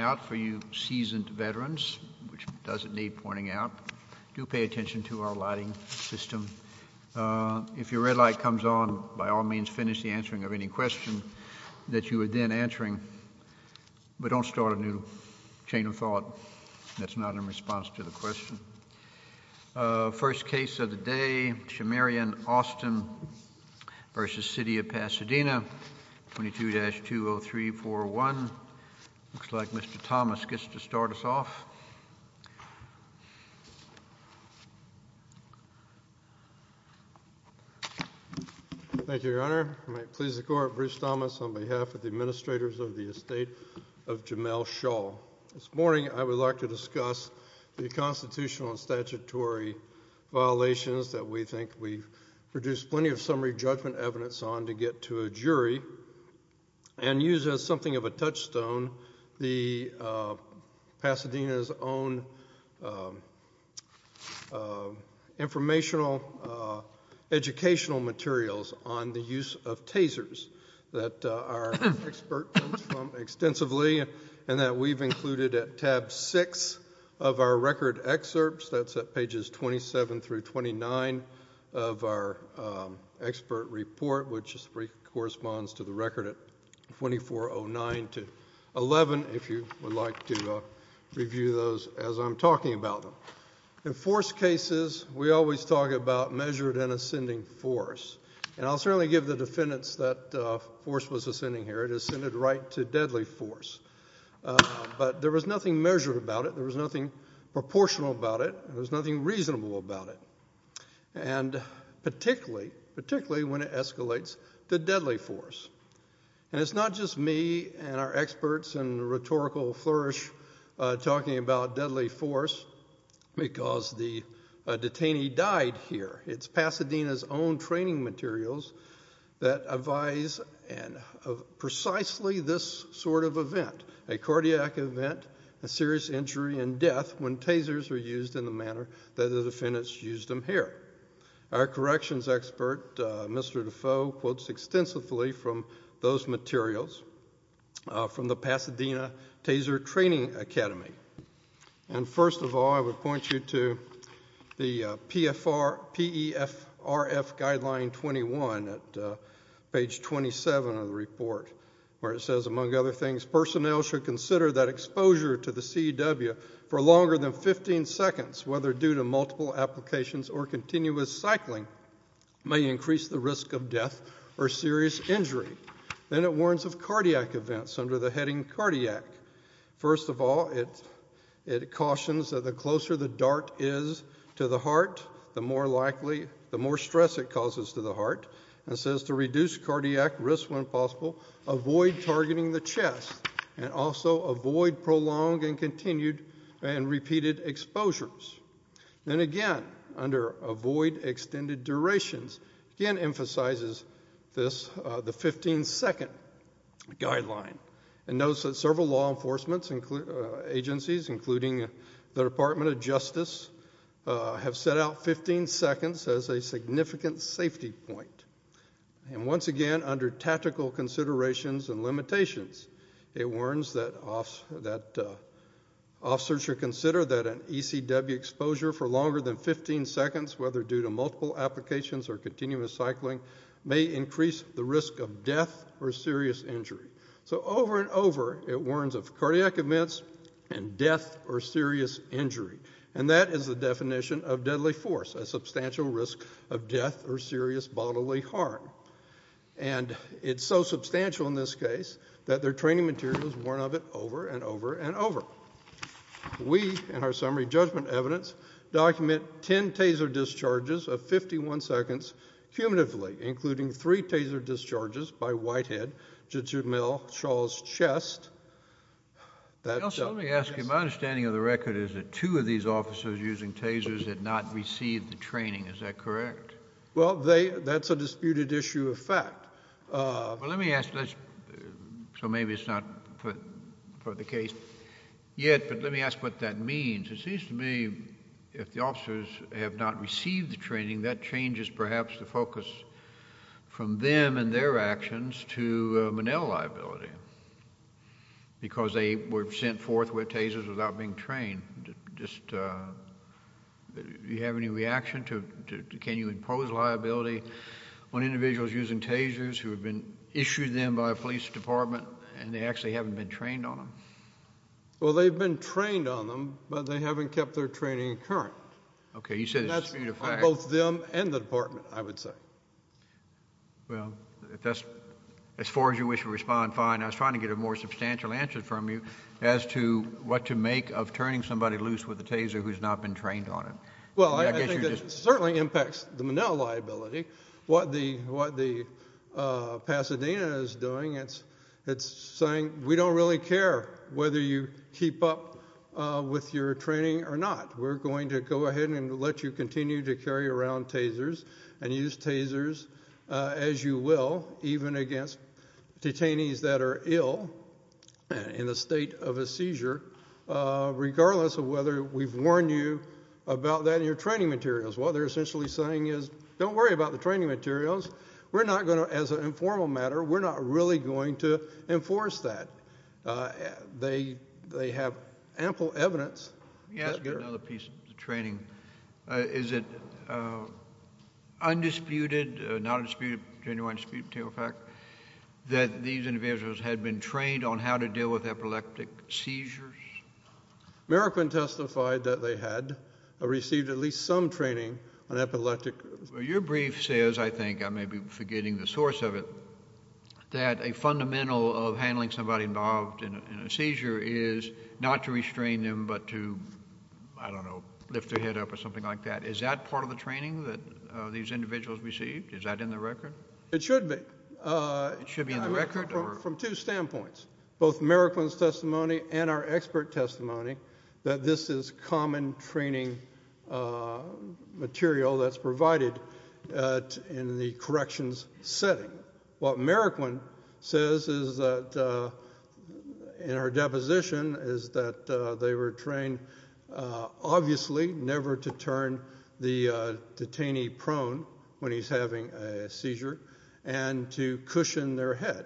out for you seasoned veterans, which doesn't need pointing out. Do pay attention to our lighting system. If your red light comes on, by all means finish the answering of any question that you are then answering, but don't start a new chain of thought that's not in response to the question. First case of the day, Chamerion, Austin v. City of Pasadena, 22-20341. Looks like Mr. Thomas gets to start us off. Thank you, Your Honor. I might please the court, Bruce Thomas, on behalf of the administrators of the estate of Jamel Shull. This morning I would like to discuss the constitutional and statutory violations that we think we've produced plenty of summary of the Pasadena's own informational, educational materials on the use of tasers that our expert comes from extensively and that we've included at tab 6 of our record excerpts, that's at pages 27-29 of our expert report, which corresponds to the record at 2409-11, if you would like to review those as I'm talking about them. In force cases, we always talk about measured and ascending force, and I'll certainly give the defendants that force was ascending here, it ascended right to deadly force, but there was nothing measured about it, there was nothing proportional about it, there was nothing reasonable about it. And particularly, particularly when it escalates to deadly force. And it's not just me and our experts and rhetorical flourish talking about deadly force because the detainee died here. It's Pasadena's own training materials that advise precisely this sort of event, a cardiac event, a serious injury and death when tasers are used in the manner that the defendants used them here. Our corrections expert, Mr. Defoe, quotes extensively from those materials from the Pasadena Taser Training Academy. And first of all, I would point you to the PFRF guideline 21 at page 27 of the report, where it says, among other things, personnel should consider that exposure to the CEW for longer than 15 seconds, whether due to multiple applications or continuous cycling, may increase the risk of death or serious injury. Then it warns of cardiac exposure, the closer the dart is to the heart, the more likely, the more stress it causes to the heart. It says to reduce cardiac risk when possible, avoid targeting the chest, and also avoid prolonged and continued and repeated exposures. Then again, under avoid extended durations, again emphasizes this, the Department of Justice have set out 15 seconds as a significant safety point. And once again, under tactical considerations and limitations, it warns that officers should consider that an ECW exposure for longer than 15 seconds, whether due to multiple applications or continuous cycling, may increase the risk of death or serious injury. And that is the definition of deadly force, a substantial risk of death or serious bodily harm. And it's so substantial in this case that their training materials warn of it over and over and over. We, in our summary judgment evidence, document 10 taser discharges of 51 seconds cumulatively, including three taser discharges by Whitehead to Jamil Shaw's chest. Let me ask you, my understanding of the record is that two of these officers using tasers had not received the training, is that correct? Well, that's a disputed issue of fact. Let me ask, so maybe it's not for the case yet, but let me ask what that means. It seems to me if the actions to Manel liability, because they were sent forth with tasers without being trained, just do you have any reaction to can you impose liability on individuals using tasers who have been issued them by a police department and they actually haven't been trained on them? Well, they've been trained on them, but they haven't kept their training current. Okay, you said it's a dispute of fact. On both them and the department, I would say. Well, as far as you wish to respond, fine. I was trying to get a more substantial answer from you as to what to make of turning somebody loose with a taser who's not been trained on them. Well, I think it certainly impacts the Manel liability. What the Pasadena is doing, it's saying we don't really care whether you keep up with your training or not. We're going to go ahead and let you continue to carry around tasers and use tasers as you will, even against detainees that are ill in the state of a seizure, regardless of whether we've warned you about that in your training materials. What they're essentially saying is don't worry about the training materials. We're not going to, as an informal matter, we're not really going to enforce that. They have ample evidence. Let me ask you another piece of training. Is it undisputed, not undisputed, genuine dispute of fact that these individuals had been trained on how to deal with epileptic seizures? Merrickman testified that they had received at least some training on epileptic seizures. Your brief says, I think, I may be forgetting the source of it, that a fundamental of handling somebody involved in a seizure is to, I don't know, lift their head up or something like that. Is that part of the training that these individuals received? Is that in the record? It should be. It should be in the record? From two standpoints, both Merrickman's testimony and our expert testimony, that this is common training material that's provided in the corrections setting. What Merrickman says is that, in our deposition, is that they were trained, obviously, never to turn the detainee prone when he's having a seizure and to cushion their head.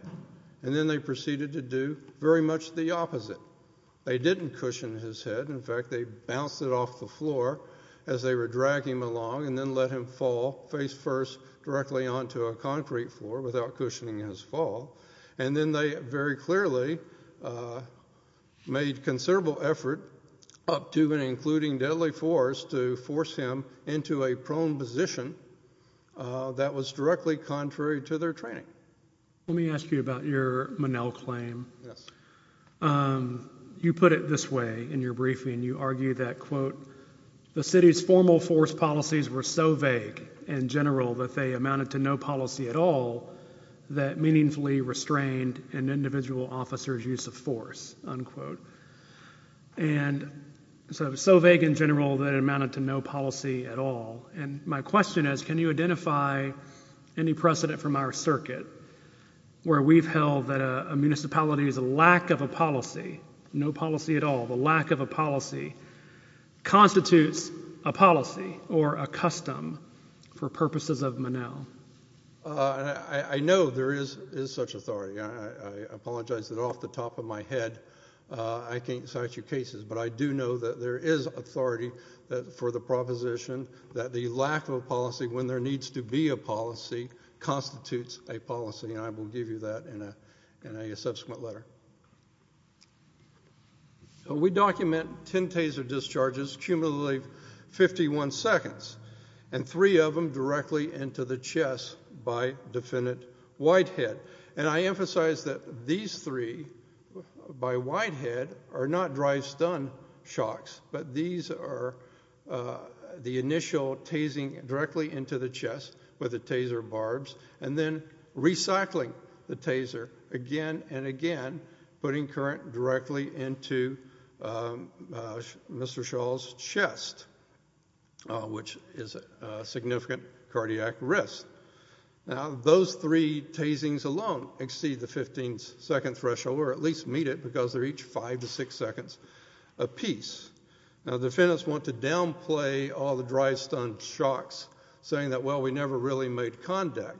And then they proceeded to do very much the opposite. They didn't cushion his head. In fact, they bounced it off the floor as they were dragging him along and then let him fall face first directly onto a floor without cushioning his fall. And then they very clearly made considerable effort, up to and including deadly force, to force him into a prone position that was directly contrary to their training. Let me ask you about your Monell claim. Yes. You put it this way in your briefing. You argue that, quote, the city's formal force policies were so vague and general that they amounted to no policy at all that meaningfully restrained an individual officer's use of force, unquote. And so vague and general that it amounted to no policy at all. And my question is, can you identify any precedent from our circuit where we've held that a municipality's lack of a policy, no policy, constitutes a policy or a custom for purposes of Monell? I know there is such authority. I apologize that off the top of my head I can't cite you cases. But I do know that there is authority for the proposition that the lack of a policy when there needs to be a policy constitutes a policy. And I will give you that in a subsequent letter. We document 10 taser discharges, cumulatively 51 seconds, and three of them directly into the chest by defendant Whitehead. And I emphasize that these three by Whitehead are not drive-stun shocks, but these are the initial tasing directly into the chest with the taser barbs and then recycling the taser again and again, putting current directly into Mr. Shaw's chest, which is a significant cardiac risk. Now, those three tasings alone exceed the 15-second threshold or at least meet it because they're each five to six seconds apiece. Now, defendants want to downplay all the drive-stun shocks, saying that, well, we never really made contact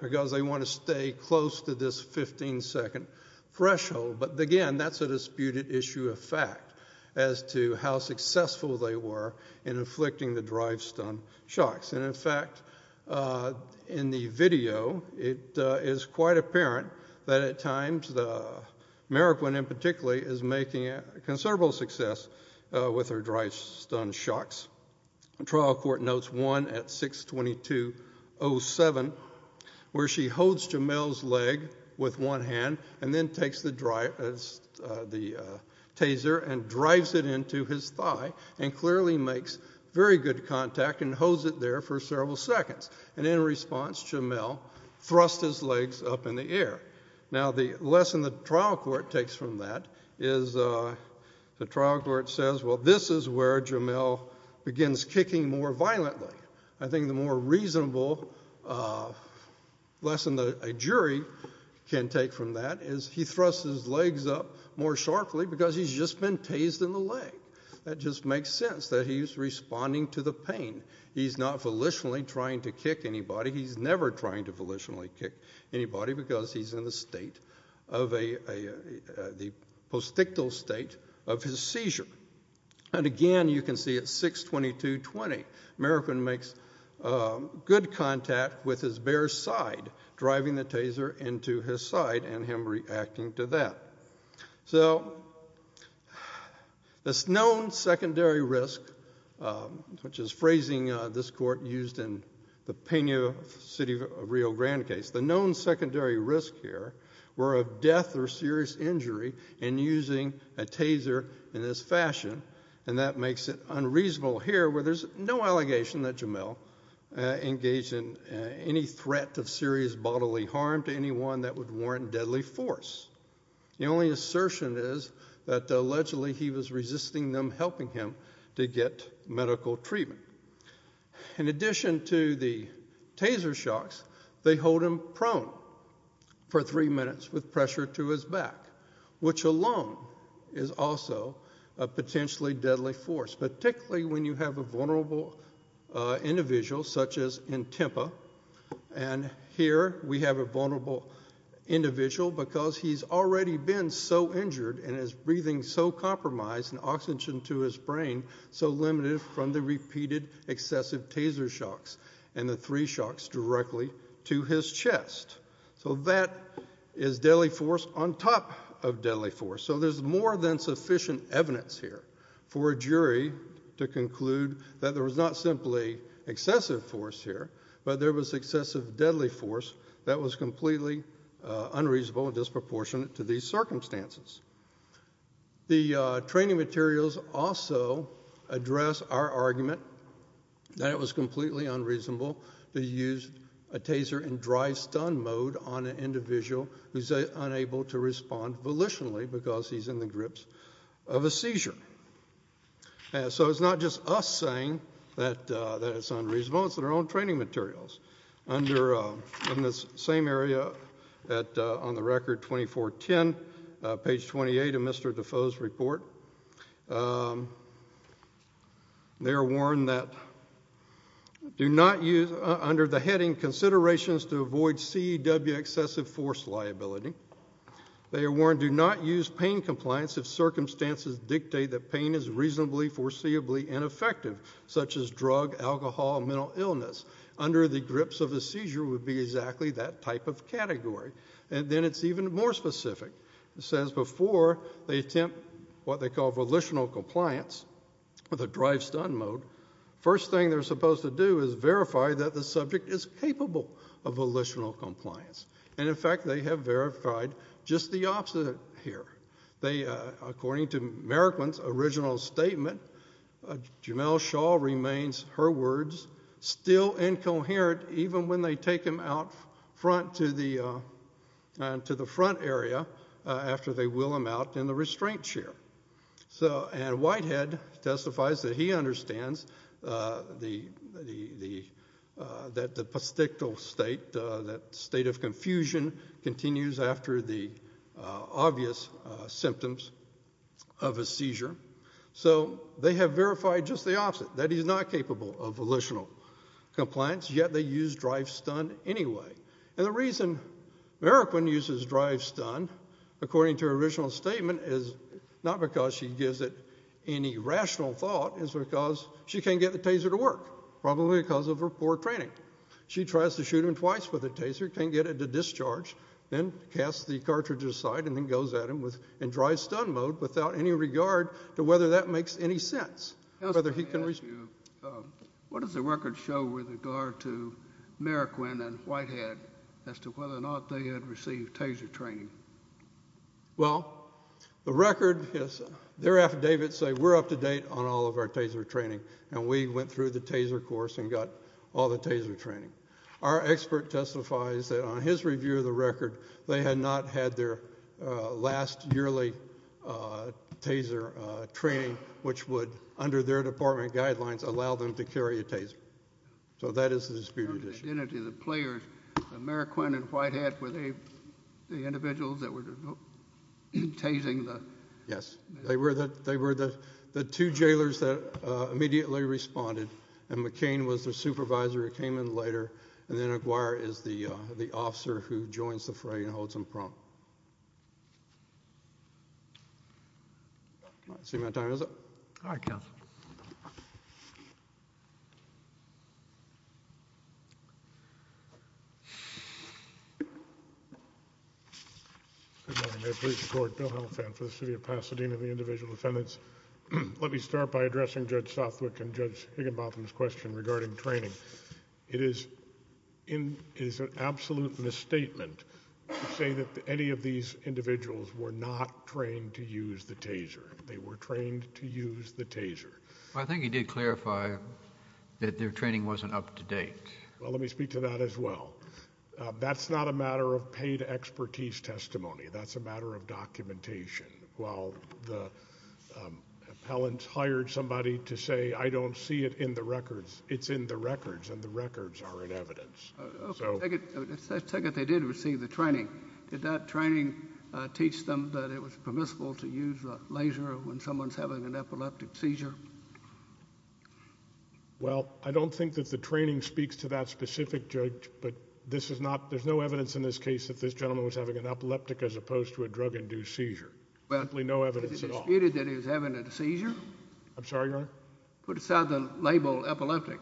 because they want to stay close to this 15-second threshold. But again, that's a disputed issue of fact as to how successful they were in inflicting the drive-stun shocks. And, in fact, in the video, it is quite apparent that at times Meriquin in particular is making considerable success with her drive-stun shocks. The trial court notes one at 622.07 where she holds Jamelle's leg with one hand and then takes the taser and drives it into his thigh and clearly makes very good contact and holds it there for several seconds. And in response, Jamelle thrusts his legs up in the air. Now, the lesson the trial court takes from that is the trial court says, well, this is where Jamelle begins kicking more violently. I think the more reasonable lesson that a jury can take from that is he thrusts his legs up more sharply because he's just been tased in the leg. That just makes sense that he's responding to the pain. He's not volitionally trying to kick anybody. He's never trying to volitionally kick anybody because he's in the postictal state of his seizure. And, again, you can see at 622.20, Meriquin makes good contact with his bare side, driving the taser into his side and him reacting to that. So this known secondary risk, which is phrasing this court used in the Pena City of Rio Grande case, the known secondary risk here were of death or serious injury in using a taser in this fashion, and that makes it unreasonable here where there's no allegation that Jamelle engaged in any threat of serious bodily harm to anyone that would warrant deadly force. The only assertion is that allegedly he was resisting them helping him to get medical treatment. In addition to the taser shocks, they hold him prone for three minutes with pressure to his back, which alone is also a potentially deadly force, particularly when you have a vulnerable individual such as Intempa. And here we have a vulnerable individual because he's already been so injured and his breathing so compromised and oxygen to his brain so limited from the repeated excessive taser shocks and the three shocks directly to his chest. So that is deadly force on top of deadly force. So there's more than sufficient evidence here for a jury to conclude that there was not simply excessive force here, but there was excessive deadly force that was completely unreasonable and disproportionate to these circumstances. The training materials also address our argument that it was completely unreasonable to use a taser in drive-stun mode on an individual who's unable to respond volitionally because he's in the grips of a seizure. So it's not just us saying that it's unreasonable. It's in our own training materials. In this same area on the record, 2410, page 28 of Mr. Defoe's report, they are warned that do not use under the heading considerations to avoid CEW excessive force liability. They are warned do not use pain compliance if circumstances dictate that pain is reasonably foreseeably ineffective, such as drug, alcohol, mental illness. Under the grips of a seizure would be exactly that type of category. And then it's even more specific. It says before they attempt what they call volitional compliance with a drive-stun mode, first thing they're supposed to do is verify that the subject is capable of volitional compliance. And, in fact, they have verified just the opposite here. According to Merikman's original statement, Jamel Shaw remains, her words, still incoherent even when they take him out front to the front area after they will him out in the restraint chair. And Whitehead testifies that he understands that the postictal state, that state of confusion continues after the obvious symptoms of a seizure. So they have verified just the opposite, that he's not capable of volitional compliance, yet they use drive-stun anyway. And the reason Merikman uses drive-stun, according to her original statement, is not because she gives it any rational thought. It's because she can't get the taser to work, probably because of her poor training. She tries to shoot him twice with the taser, can't get it to discharge, then casts the cartridge aside and then goes at him in drive-stun mode without any regard to whether that makes any sense. What does the record show with regard to Merikman and Whitehead as to whether or not they had received taser training? Well, the record, their affidavits say we're up to date on all of our taser training, and we went through the taser course and got all the taser training. Our expert testifies that on his review of the record, they had not had their last yearly taser training, which would, under their department guidelines, allow them to carry a taser. So that is the disputed issue. The players, Merikman and Whitehead, were they the individuals that were tasing the? Yes. They were the two jailers that immediately responded, and McCain was their supervisor who came in later, and then Aguirre is the officer who joins the fray and holds him prompt. I see my time is up. All right, counsel. Good morning. May it please the Court, Bill Helfand for the City of Pasadena and the Individual Defendants. Let me start by addressing Judge Southwick and Judge Higginbotham's question regarding training. It is an absolute misstatement to say that any of these individuals were not trained to use the taser. They were trained to use the taser. I think you did clarify that their training wasn't up to date. Well, let me speak to that as well. That's not a matter of paid expertise testimony. That's a matter of documentation. While the appellant hired somebody to say, I don't see it in the records, it's in the records, and the records are in evidence. Let's take it they did receive the training. Did that training teach them that it was permissible to use a laser when someone is having an epileptic seizure? Well, I don't think that the training speaks to that specific judge, but there's no evidence in this case that this gentleman was having an epileptic as opposed to a drug-induced seizure. There's simply no evidence at all. Was it disputed that he was having a seizure? I'm sorry, Your Honor? Put aside the label epileptic.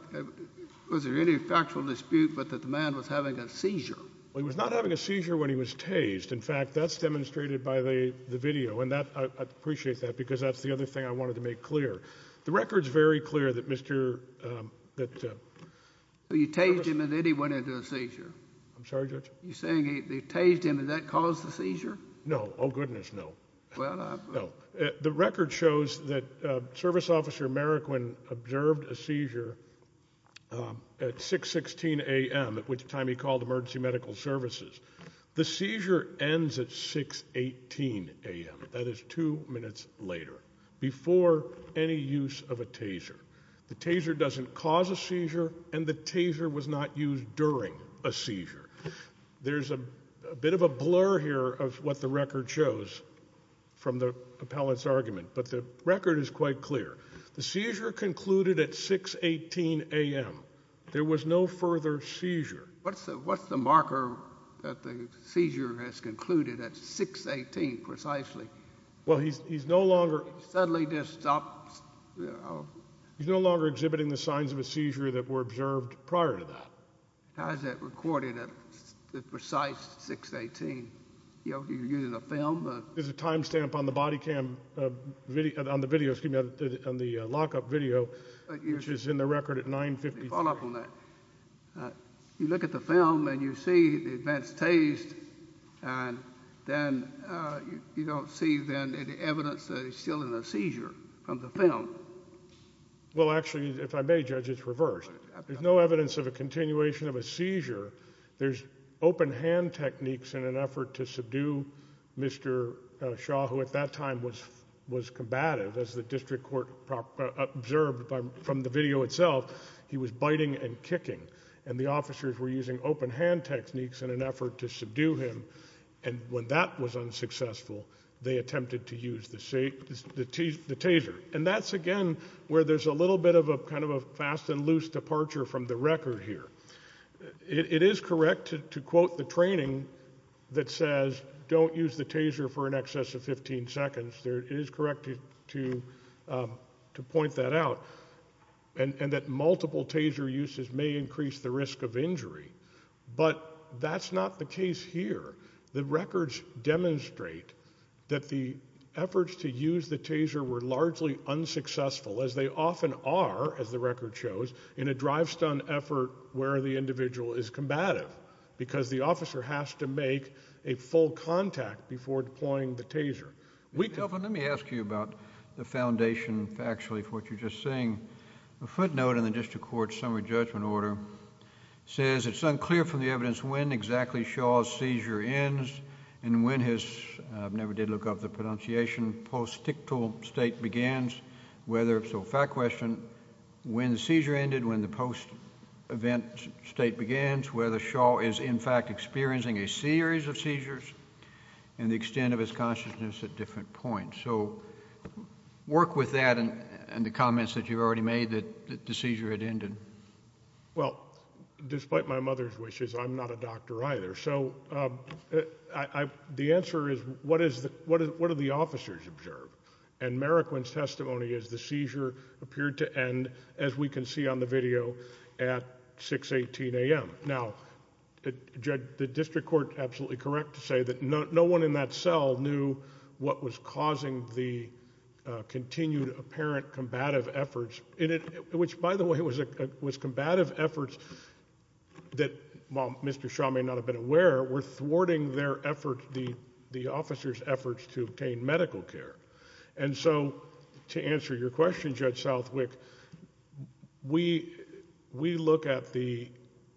Was there any factual dispute that the man was having a seizure? Well, he was not having a seizure when he was tased. In fact, that's demonstrated by the video, and I appreciate that because that's the other thing I wanted to make clear. The record's very clear that Mr. You tased him and then he went into a seizure. I'm sorry, Judge? You're saying they tased him. Did that cause the seizure? No. Oh, goodness, no. The record shows that Service Officer Marroquin observed a seizure at 6.16 a.m., at which time he called emergency medical services. The seizure ends at 6.18 a.m., that is two minutes later, before any use of a taser. The taser doesn't cause a seizure, and the taser was not used during a seizure. There's a bit of a blur here of what the record shows from the appellant's argument, but the record is quite clear. The seizure concluded at 6.18 a.m. There was no further seizure. What's the marker that the seizure has concluded at 6.18 precisely? Well, he's no longer – He's no longer exhibiting the signs of a seizure that were observed prior to that. How is that recorded at the precise 6.18? Do you use a film? There's a time stamp on the lockup video, which is in the record at 9.53. Let me follow up on that. You look at the film, and you see the advanced taste, and then you don't see then any evidence that he's still in a seizure from the film. Well, actually, if I may, Judge, it's reversed. There's no evidence of a continuation of a seizure. There's open-hand techniques in an effort to subdue Mr. Shaw, who at that time was combative. As the district court observed from the video itself, he was biting and kicking, and the officers were using open-hand techniques in an effort to subdue him. And when that was unsuccessful, they attempted to use the taser. And that's, again, where there's a little bit of a kind of a fast and loose departure from the record here. It is correct to quote the training that says don't use the taser for in excess of 15 seconds. It is correct to point that out, and that multiple taser uses may increase the risk of injury. But that's not the case here. The records demonstrate that the efforts to use the taser were largely unsuccessful, as they often are, as the record shows, in a drive-stunt effort where the individual is combative, because the officer has to make a full contact before deploying the taser. Mr. Elfin, let me ask you about the foundation factually for what you're just saying. A footnote in the district court's summary judgment order says it's unclear from the evidence when exactly Shaw's seizure ends and when his, I never did look up the pronunciation, post-tictal state begins, whether, so fact question, when the seizure ended, when the post-event state begins, whether Shaw is in fact experiencing a series of seizures and the extent of his consciousness at different points. So work with that and the comments that you've already made that the seizure had ended. Well, despite my mother's wishes, I'm not a doctor either. So the answer is what do the officers observe? And Meriquin's testimony is the seizure appeared to end, as we can see on the video, at 6.18 a.m. Now, the district court, absolutely correct to say that no one in that cell knew what was causing the continued apparent combative efforts, which, by the way, was combative efforts that, while Mr. Shaw may not have been aware, were thwarting their efforts, the officers' efforts to obtain medical care. And so to answer your question, Judge Southwick, we look at the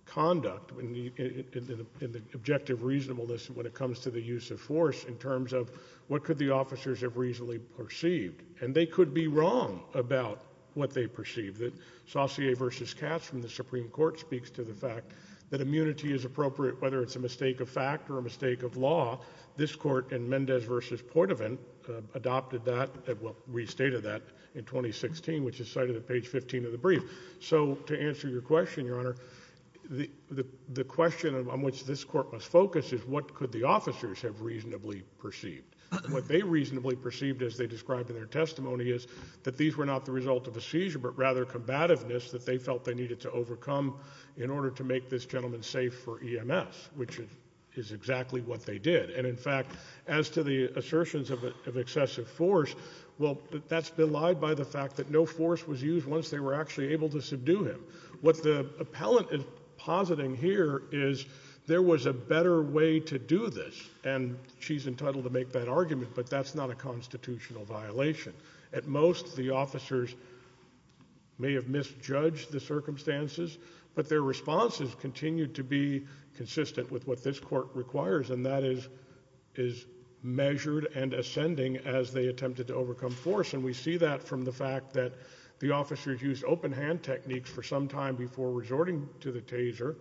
conduct and the objective reasonableness when it comes to the use of force in terms of what could the officers have reasonably perceived. And they could be wrong about what they perceived. Saussure v. Katz from the Supreme Court speaks to the fact that immunity is appropriate, whether it's a mistake of fact or a mistake of law. This court in Mendez v. Portovan adopted that, well, restated that in 2016, which is cited at page 15 of the brief. So to answer your question, Your Honor, the question on which this court must focus is what could the officers have reasonably perceived? What they reasonably perceived as they described in their testimony is that these were not the result of a seizure but rather combativeness that they felt they needed to overcome in order to make this gentleman safe for EMS, which is exactly what they did. And, in fact, as to the assertions of excessive force, well, that's been lied by the fact that no force was used once they were actually able to subdue him. What the appellant is positing here is there was a better way to do this, and she's entitled to make that argument, but that's not a constitutional violation. At most, the officers may have misjudged the circumstances, but their responses continued to be consistent with what this court requires, and that is measured and ascending as they attempted to overcome force, and we see that from the fact that the officers used open-hand techniques for some time before resorting to the taser,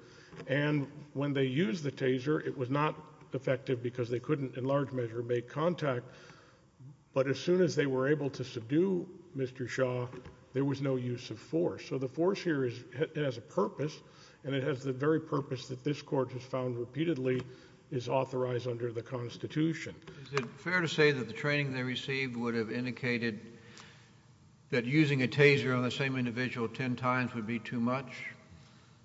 and when they used the taser, it was not effective because they couldn't in large measure make contact. But as soon as they were able to subdue Mr. Shaw, there was no use of force. So the force here has a purpose, and it has the very purpose that this Court has found repeatedly is authorized under the Constitution. Is it fair to say that the training they received would have indicated that using a taser on the same individual ten times would be too much?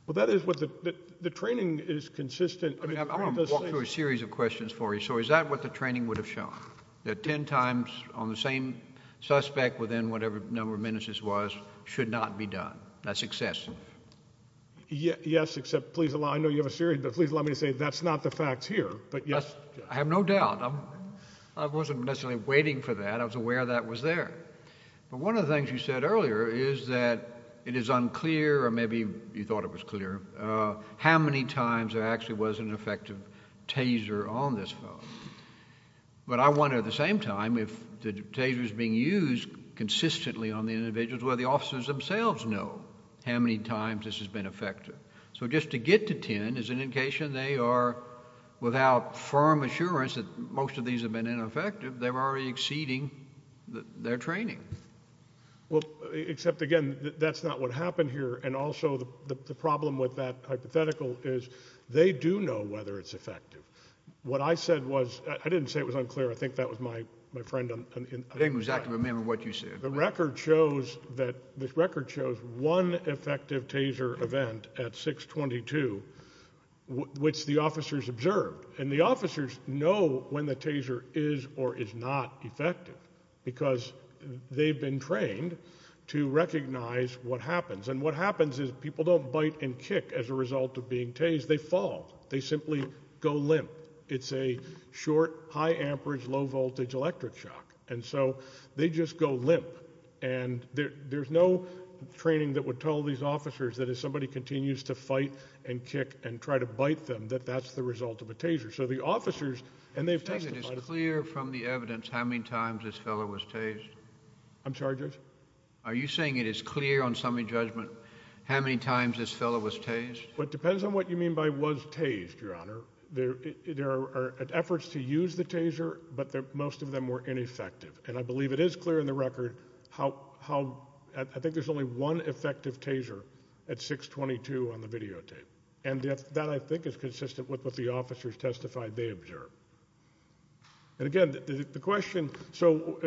Well, that is what the training is consistent. I want to walk through a series of questions for you. So is that what the training would have shown, that ten times on the same suspect within whatever number of minutes this was should not be done? That's excessive? Yes, except please allow me to say that's not the facts here, but yes. I have no doubt. I wasn't necessarily waiting for that. I was aware that was there. But one of the things you said earlier is that it is unclear, or maybe you thought it was clear, how many times there actually was an effective taser on this fellow. But I wonder at the same time if the taser is being used consistently on the individuals, well, the officers themselves know how many times this has been effective. So just to get to ten is an indication they are, without firm assurance that most of these have been ineffective, they're already exceeding their training. Well, except again, that's not what happened here, and also the problem with that hypothetical is they do know whether it's effective. What I said was, I didn't say it was unclear. I think that was my friend. I didn't exactly remember what you said. The record shows that one effective taser event at 622, which the officers observed, and the officers know when the taser is or is not effective because they've been trained to recognize what happens. And what happens is people don't bite and kick as a result of being tased. They fall. They simply go limp. It's a short, high amperage, low voltage electric shock. And so they just go limp. And there's no training that would tell these officers that if somebody continues to fight and kick and try to bite them, that that's the result of a taser. So the officers, and they've testified. Are you saying it is clear from the evidence how many times this fellow was tased? I'm sorry, Judge? Are you saying it is clear on summary judgment how many times this fellow was tased? Well, it depends on what you mean by was tased, Your Honor. There are efforts to use the taser, but most of them were ineffective. And I believe it is clear in the record how I think there's only one effective taser at 622 on the videotape. And that, I think, is consistent with what the officers testified they observed. And, again, the question so,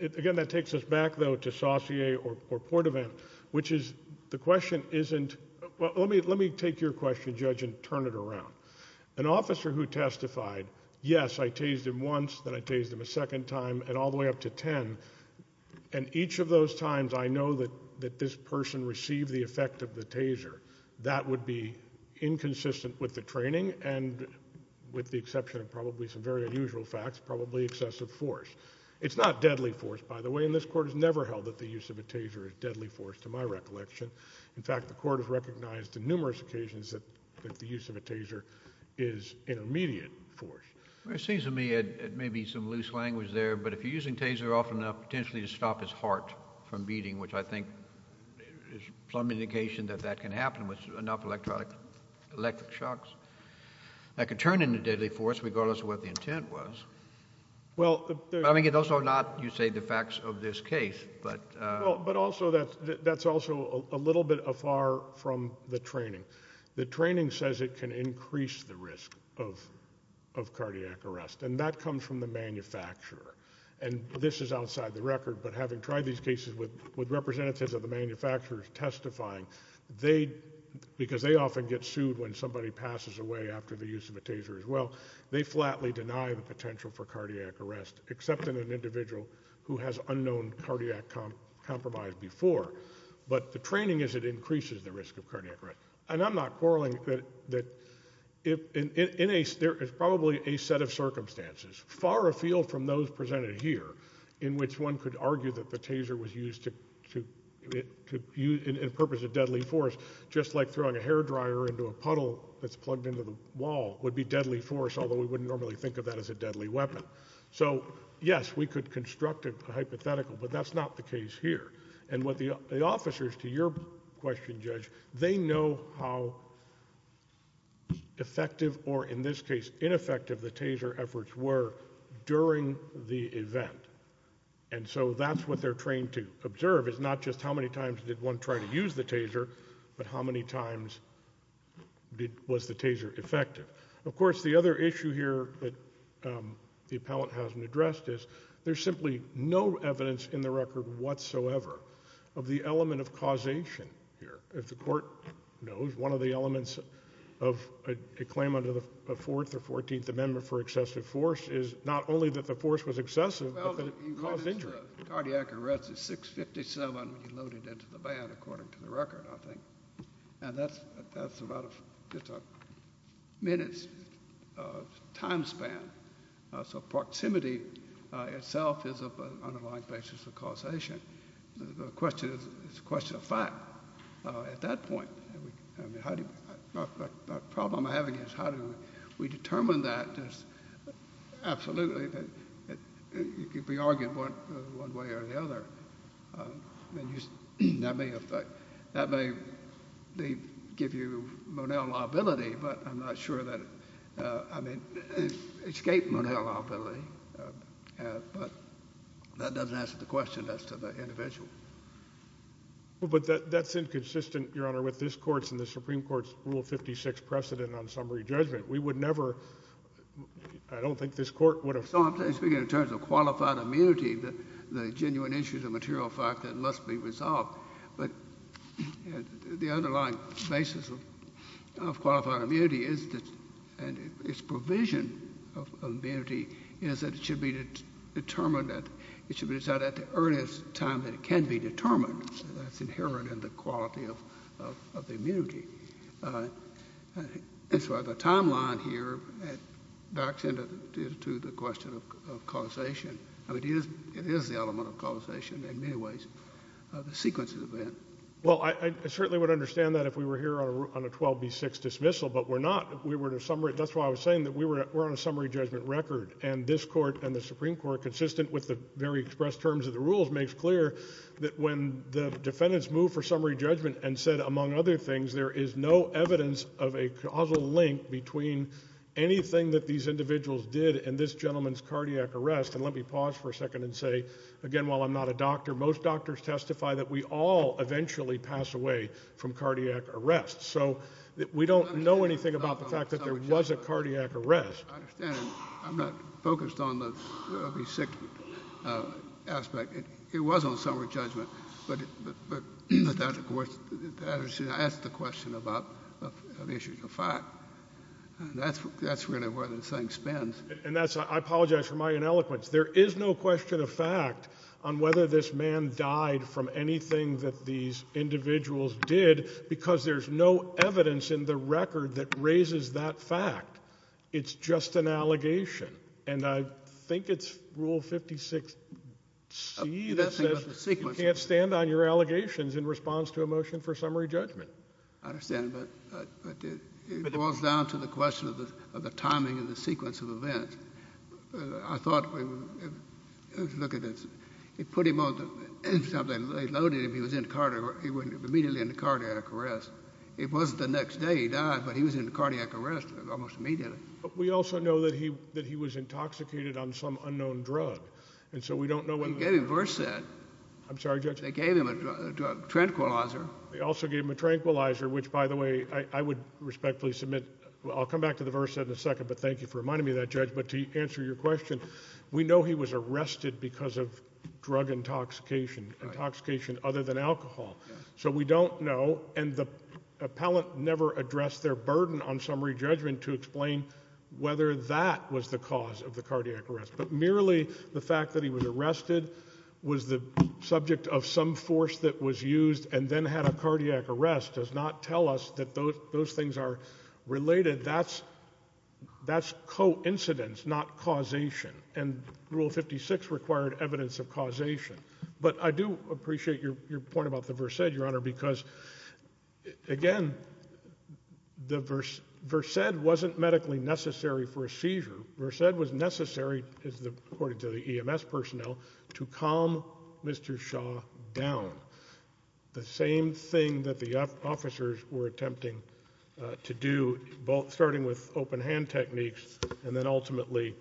again, that takes us back, though, to Saussure or Portavant, which is the question isn't, well, let me take your question, Judge, and turn it around. An officer who testified, yes, I tased him once, then I tased him a second time, and all the way up to ten, and each of those times I know that this person received the effect of the taser, that would be inconsistent with the training and, with the exception of probably some very unusual facts, probably excessive force. It's not deadly force, by the way, and this Court has never held that the use of a taser is deadly force to my recollection. In fact, the Court has recognized on numerous occasions that the use of a taser is intermediate force. Well, it seems to me it may be some loose language there, but if you're using taser often enough potentially to stop his heart from beating, which I think is some indication that that can happen with enough electric shocks, that could turn into deadly force regardless of what the intent was. I mean, those are not, you say, the facts of this case. But also that's also a little bit afar from the training. The training says it can increase the risk of cardiac arrest, and that comes from the manufacturer. And this is outside the record, but having tried these cases with representatives of the manufacturers testifying, because they often get sued when somebody passes away after the use of a taser as well, they flatly deny the potential for cardiac arrest, except in an individual who has unknown cardiac compromise before. But the training is it increases the risk of cardiac arrest. And I'm not quarreling that there is probably a set of circumstances far afield from those presented here in which one could argue that the taser was used in purpose of deadly force, just like throwing a hair dryer into a puddle that's plugged into the wall would be deadly force, although we wouldn't normally think of that as a deadly weapon. So, yes, we could construct a hypothetical, but that's not the case here. And what the officers, to your question, Judge, they know how effective or, in this case, ineffective the taser efforts were during the event. And so that's what they're trained to observe is not just how many times did one try to use the taser, but how many times was the taser effective. Of course, the other issue here that the appellant hasn't addressed is there's simply no evidence in the record whatsoever of the element of causation here. As the Court knows, one of the elements of a claim under the Fourth or Fourteenth Amendment for excessive force is not only that the force was excessive, but that it caused injury. Cardiac arrest is 657 when you load it into the van, according to the record, I think. And that's about just a minute's time span. So proximity itself is of an underlying basis of causation. The question is a question of fact at that point. The problem I have is how do we determine that? Absolutely, it could be argued one way or the other. That may give you Monell liability, but I'm not sure that it would escape Monell liability. But that doesn't answer the question as to the individual. But that's inconsistent, Your Honor, with this Court's and the Supreme Court's Rule 56 precedent on summary judgment. We would never – I don't think this Court would have – No, I'm speaking in terms of qualified immunity, the genuine issues of material fact that must be resolved. But the underlying basis of qualified immunity is that – and its provision of immunity is that it should be determined at – it should be decided at the earliest time that it can be determined. That's inherent in the quality of immunity. That's why the timeline here backs into the question of causation. It is the element of causation in many ways. The sequence of events. Well, I certainly would understand that if we were here on a 12B6 dismissal, but we're not. That's why I was saying that we're on a summary judgment record. And this Court and the Supreme Court, consistent with the very express terms of the rules, makes clear that when the defendants move for summary judgment and said, among other things, there is no evidence of a causal link between anything that these individuals did and this gentleman's cardiac arrest. And let me pause for a second and say, again, while I'm not a doctor, most doctors testify that we all eventually pass away from cardiac arrest. So we don't know anything about the fact that there was a cardiac arrest. I understand. I'm not focused on the B6 aspect. It was on summary judgment. But that's the question about issues of fact. That's really where this thing spins. And I apologize for my ineloquence. There is no question of fact on whether this man died from anything that these individuals did because there's no evidence in the record that raises that fact. It's just an allegation. And I think it's Rule 56C that says you can't stand on your allegations in response to a motion for summary judgment. I understand. But it boils down to the question of the timing and the sequence of events. I thought we would look at this. They put him on something. They loaded him. He was immediately in cardiac arrest. It wasn't the next day he died, but he was in cardiac arrest almost immediately. But we also know that he was intoxicated on some unknown drug. And so we don't know when the – They gave him Versed. I'm sorry, Judge? They gave him a tranquilizer. They also gave him a tranquilizer, which, by the way, I would respectfully submit. I'll come back to the Versed in a second, but thank you for reminding me of that, Judge. But to answer your question, we know he was arrested because of drug intoxication, intoxication other than alcohol. So we don't know. And the appellant never addressed their burden on summary judgment to explain whether that was the cause of the cardiac arrest. But merely the fact that he was arrested was the subject of some force that was used and then had a cardiac arrest does not tell us that those things are related. That's coincidence, not causation. And Rule 56 required evidence of causation. But I do appreciate your point about the Versed, Your Honor, because, again, the Versed wasn't medically necessary for a seizure. The Versed was necessary, according to the EMS personnel, to calm Mr. Shaw down, the same thing that the officers were attempting to do, both starting with open-hand techniques and then ultimately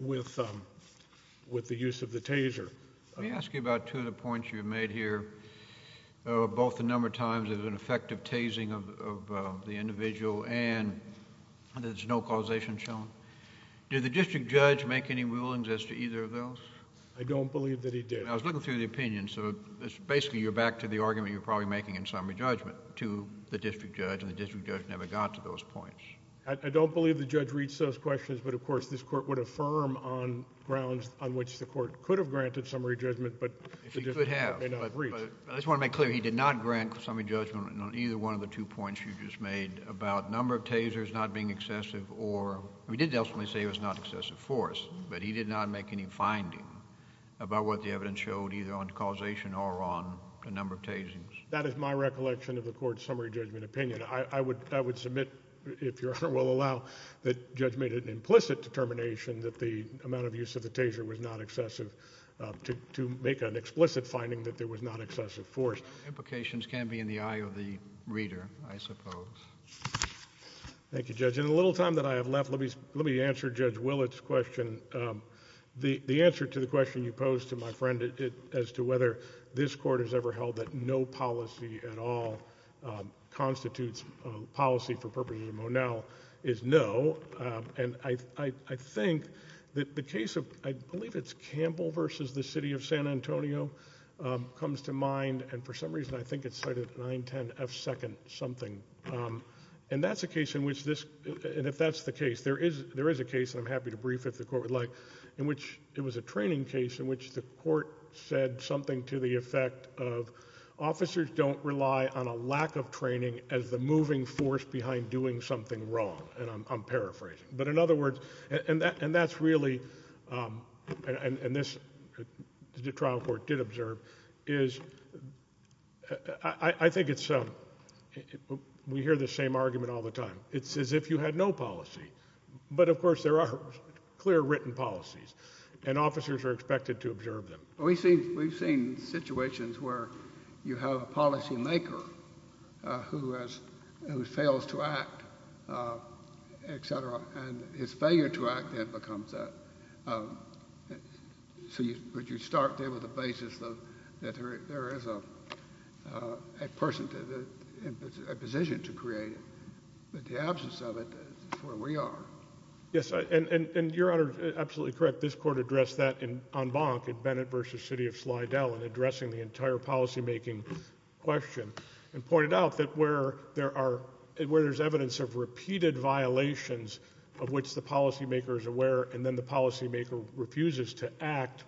with the use of the taser. Let me ask you about two of the points you've made here, both the number of times there's been effective tasing of the individual and there's no causation shown. Did the district judge make any rulings as to either of those? I don't believe that he did. I was looking through the opinion, so basically you're back to the argument you're probably making in summary judgment to the district judge, and the district judge never got to those points. I don't believe the judge reached those questions. But, of course, this Court would affirm on grounds on which the Court could have granted summary judgment, but the district judge may not have reached. I just want to make clear, he did not grant summary judgment on either one of the two points you just made about number of tasers not being excessive or – he did ultimately say it was not excessive force, but he did not make any finding about what the evidence showed either on causation or on the number of tasings. That is my recollection of the Court's summary judgment opinion. I would submit, if Your Honor will allow, that the judge made an implicit determination that the amount of use of the taser was not excessive to make an explicit finding that there was not excessive force. Implications can be in the eye of the reader, I suppose. Thank you, Judge. In the little time that I have left, let me answer Judge Willett's question. The answer to the question you posed to my friend as to whether this Court has ever held that no policy at all constitutes policy for purposes of Monell is no. I think that the case of – I believe it's Campbell v. the City of San Antonio comes to mind, and for some reason I think it's cited 910 F. 2nd something, and that's a case in which this – and if that's the case, there is a case, and I'm happy to brief if the Court would like, in which it was a training case in which the Court said something to the effect of But in other words – and that's really – and this – the trial court did observe – is I think it's – we hear the same argument all the time. It's as if you had no policy. But, of course, there are clear written policies, and officers are expected to observe them. We've seen situations where you have a policymaker who has – who fails to act, et cetera, and his failure to act then becomes that. So you start there with the basis that there is a person – a position to create, but the absence of it is where we are. Yes, and Your Honor is absolutely correct. This Court addressed that en banc in Bennett v. City of Slidell in addressing the entire policymaking question and pointed out that where there are – where there's evidence of repeated violations of which the policymaker is aware and then the policymaker refuses to act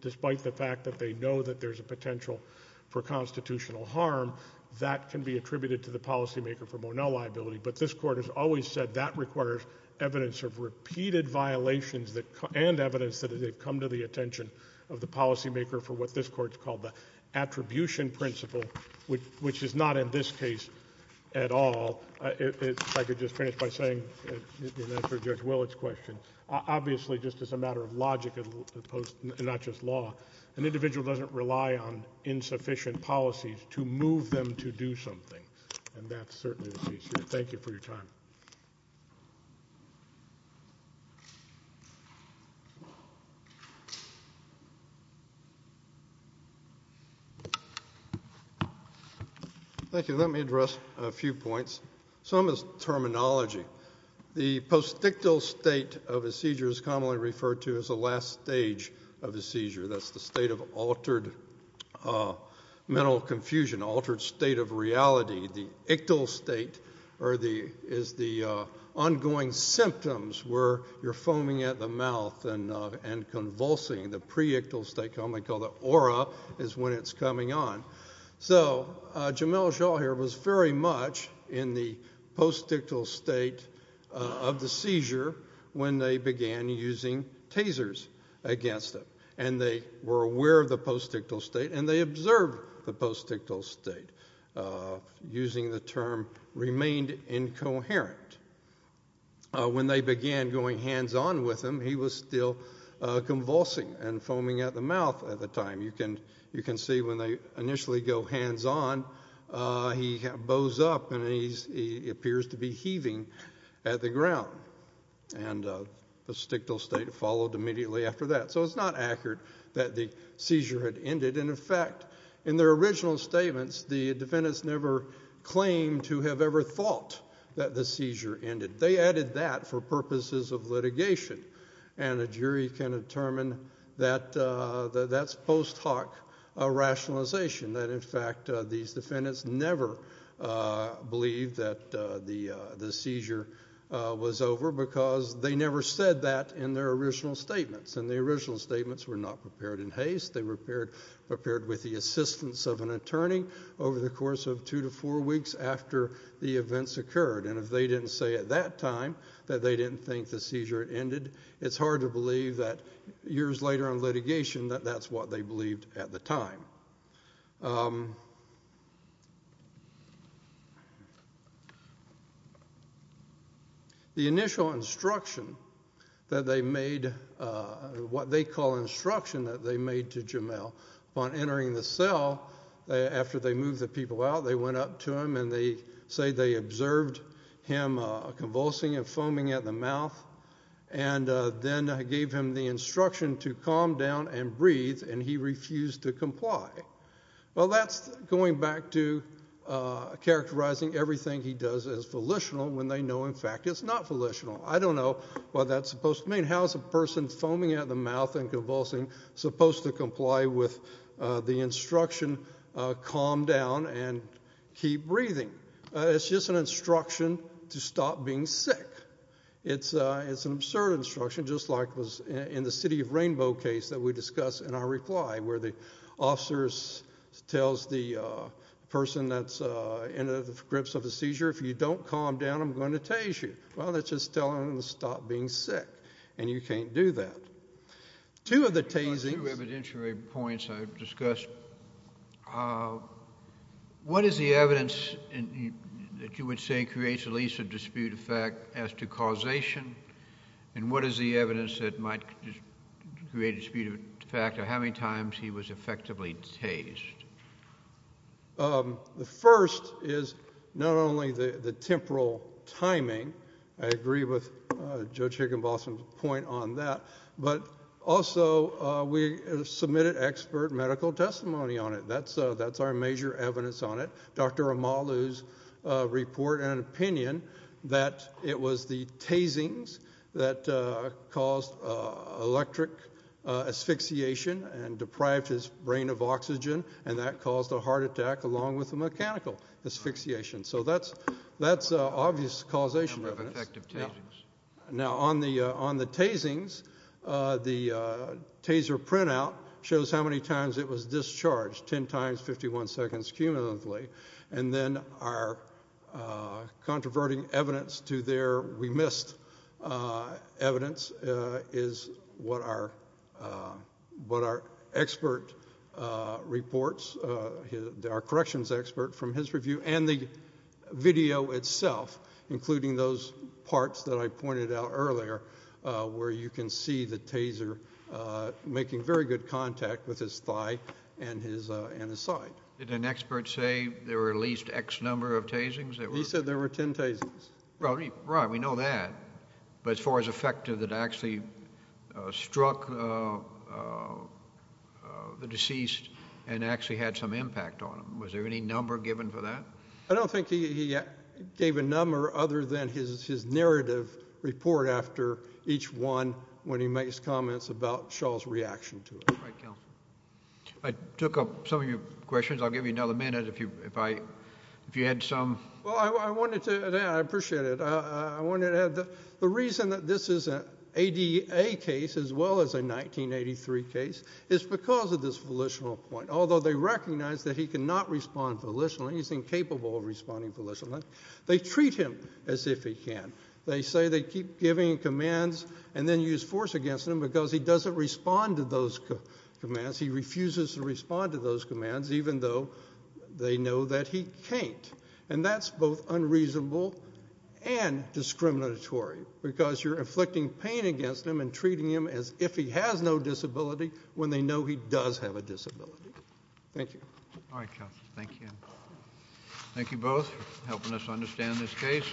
despite the fact that they know that there's a potential for constitutional harm, that can be attributed to the policymaker for Monell liability. But this Court has always said that requires evidence of repeated violations and evidence that has come to the attention of the policymaker for what this Court has called the attribution principle, which is not in this case at all. If I could just finish by saying, in answer to Judge Willett's question, obviously just as a matter of logic as opposed to not just law, an individual doesn't rely on insufficient policies to move them to do something, and that's certainly the case here. Thank you for your time. Thank you. Let me address a few points. Some is terminology. The postictal state of a seizure is commonly referred to as the last stage of a seizure. That's the state of altered mental confusion, altered state of reality. The ictal state is the ongoing symptoms where you're foaming at the mouth and convulsing. The preictal state, commonly called the aura, is when it's coming on. So Jamelle Shaw here was very much in the postictal state of the seizure when they began using tasers against him, and they were aware of the postictal state and they observed the postictal state, using the term remained incoherent. When they began going hands-on with him, he was still convulsing and foaming at the mouth at the time. You can see when they initially go hands-on, he bows up and he appears to be heaving at the ground, and the postictal state followed immediately after that. So it's not accurate that the seizure had ended. In effect, in their original statements, the defendants never claimed to have ever thought that the seizure ended. They added that for purposes of litigation, and a jury can determine that that's post hoc rationalization, that in fact these defendants never believed that the seizure was over because they never said that in their original statements, and the original statements were not prepared in haste. They were prepared with the assistance of an attorney over the course of two to four weeks after the events occurred, and if they didn't say at that time that they didn't think the seizure had ended, it's hard to believe that years later in litigation that that's what they believed at the time. The initial instruction that they made, what they call instruction that they made to Jamel, upon entering the cell, after they moved the people out, they went up to him and they say they observed him convulsing and foaming at the mouth, and then gave him the instruction to calm down and breathe, and he refused to comply. Well, that's going back to characterizing everything he does as volitional when they know in fact it's not volitional. I don't know what that's supposed to mean. How is a person foaming at the mouth and convulsing supposed to comply with the instruction, calm down and keep breathing? It's just an instruction to stop being sick. It's an absurd instruction, just like it was in the City of Rainbow case that we discussed in our reply, where the officer tells the person that's in the grips of the seizure, if you don't calm down, I'm going to tase you. Well, that's just telling them to stop being sick, and you can't do that. Two of the tasings. Two evidentiary points I've discussed. What is the evidence that you would say creates at least a dispute of fact as to causation, and what is the evidence that might create a dispute of fact of how many times he was effectively tased? The first is not only the temporal timing. I agree with Judge Higginbotham's point on that. But also we submitted expert medical testimony on it. That's our major evidence on it. Dr. Amalu's report and opinion that it was the tasings that caused electric asphyxiation and deprived his brain of oxygen, and that caused a heart attack along with a mechanical asphyxiation. So that's obvious causation evidence. Now, on the tasings, the taser printout shows how many times it was discharged, 10 times 51 seconds cumulatively. And then our controverting evidence to their remissed evidence is what our expert reports, our corrections expert from his review, and the video itself, including those parts that I pointed out earlier where you can see the taser making very good contact with his thigh and his side. Did an expert say there were at least X number of tasings? He said there were 10 tasings. Right, we know that. But as far as effective, it actually struck the deceased and actually had some impact on him. Was there any number given for that? I don't think he gave a number other than his narrative report after each one when he makes comments about Shaw's reaction to it. All right, counsel. I took up some of your questions. I'll give you another minute if you had some. Well, I wanted to add. I appreciate it. The reason that this is an ADA case as well as a 1983 case is because of this volitional point. Although they recognize that he cannot respond volitionally, he's incapable of responding volitionally, they treat him as if he can. They say they keep giving commands and then use force against him because he doesn't respond to those commands. He refuses to respond to those commands even though they know that he can't. And that's both unreasonable and discriminatory because you're inflicting pain against him and treating him as if he has no disability when they know he does have a disability. Thank you. All right, counsel. Thank you. Thank you both for helping us understand this case.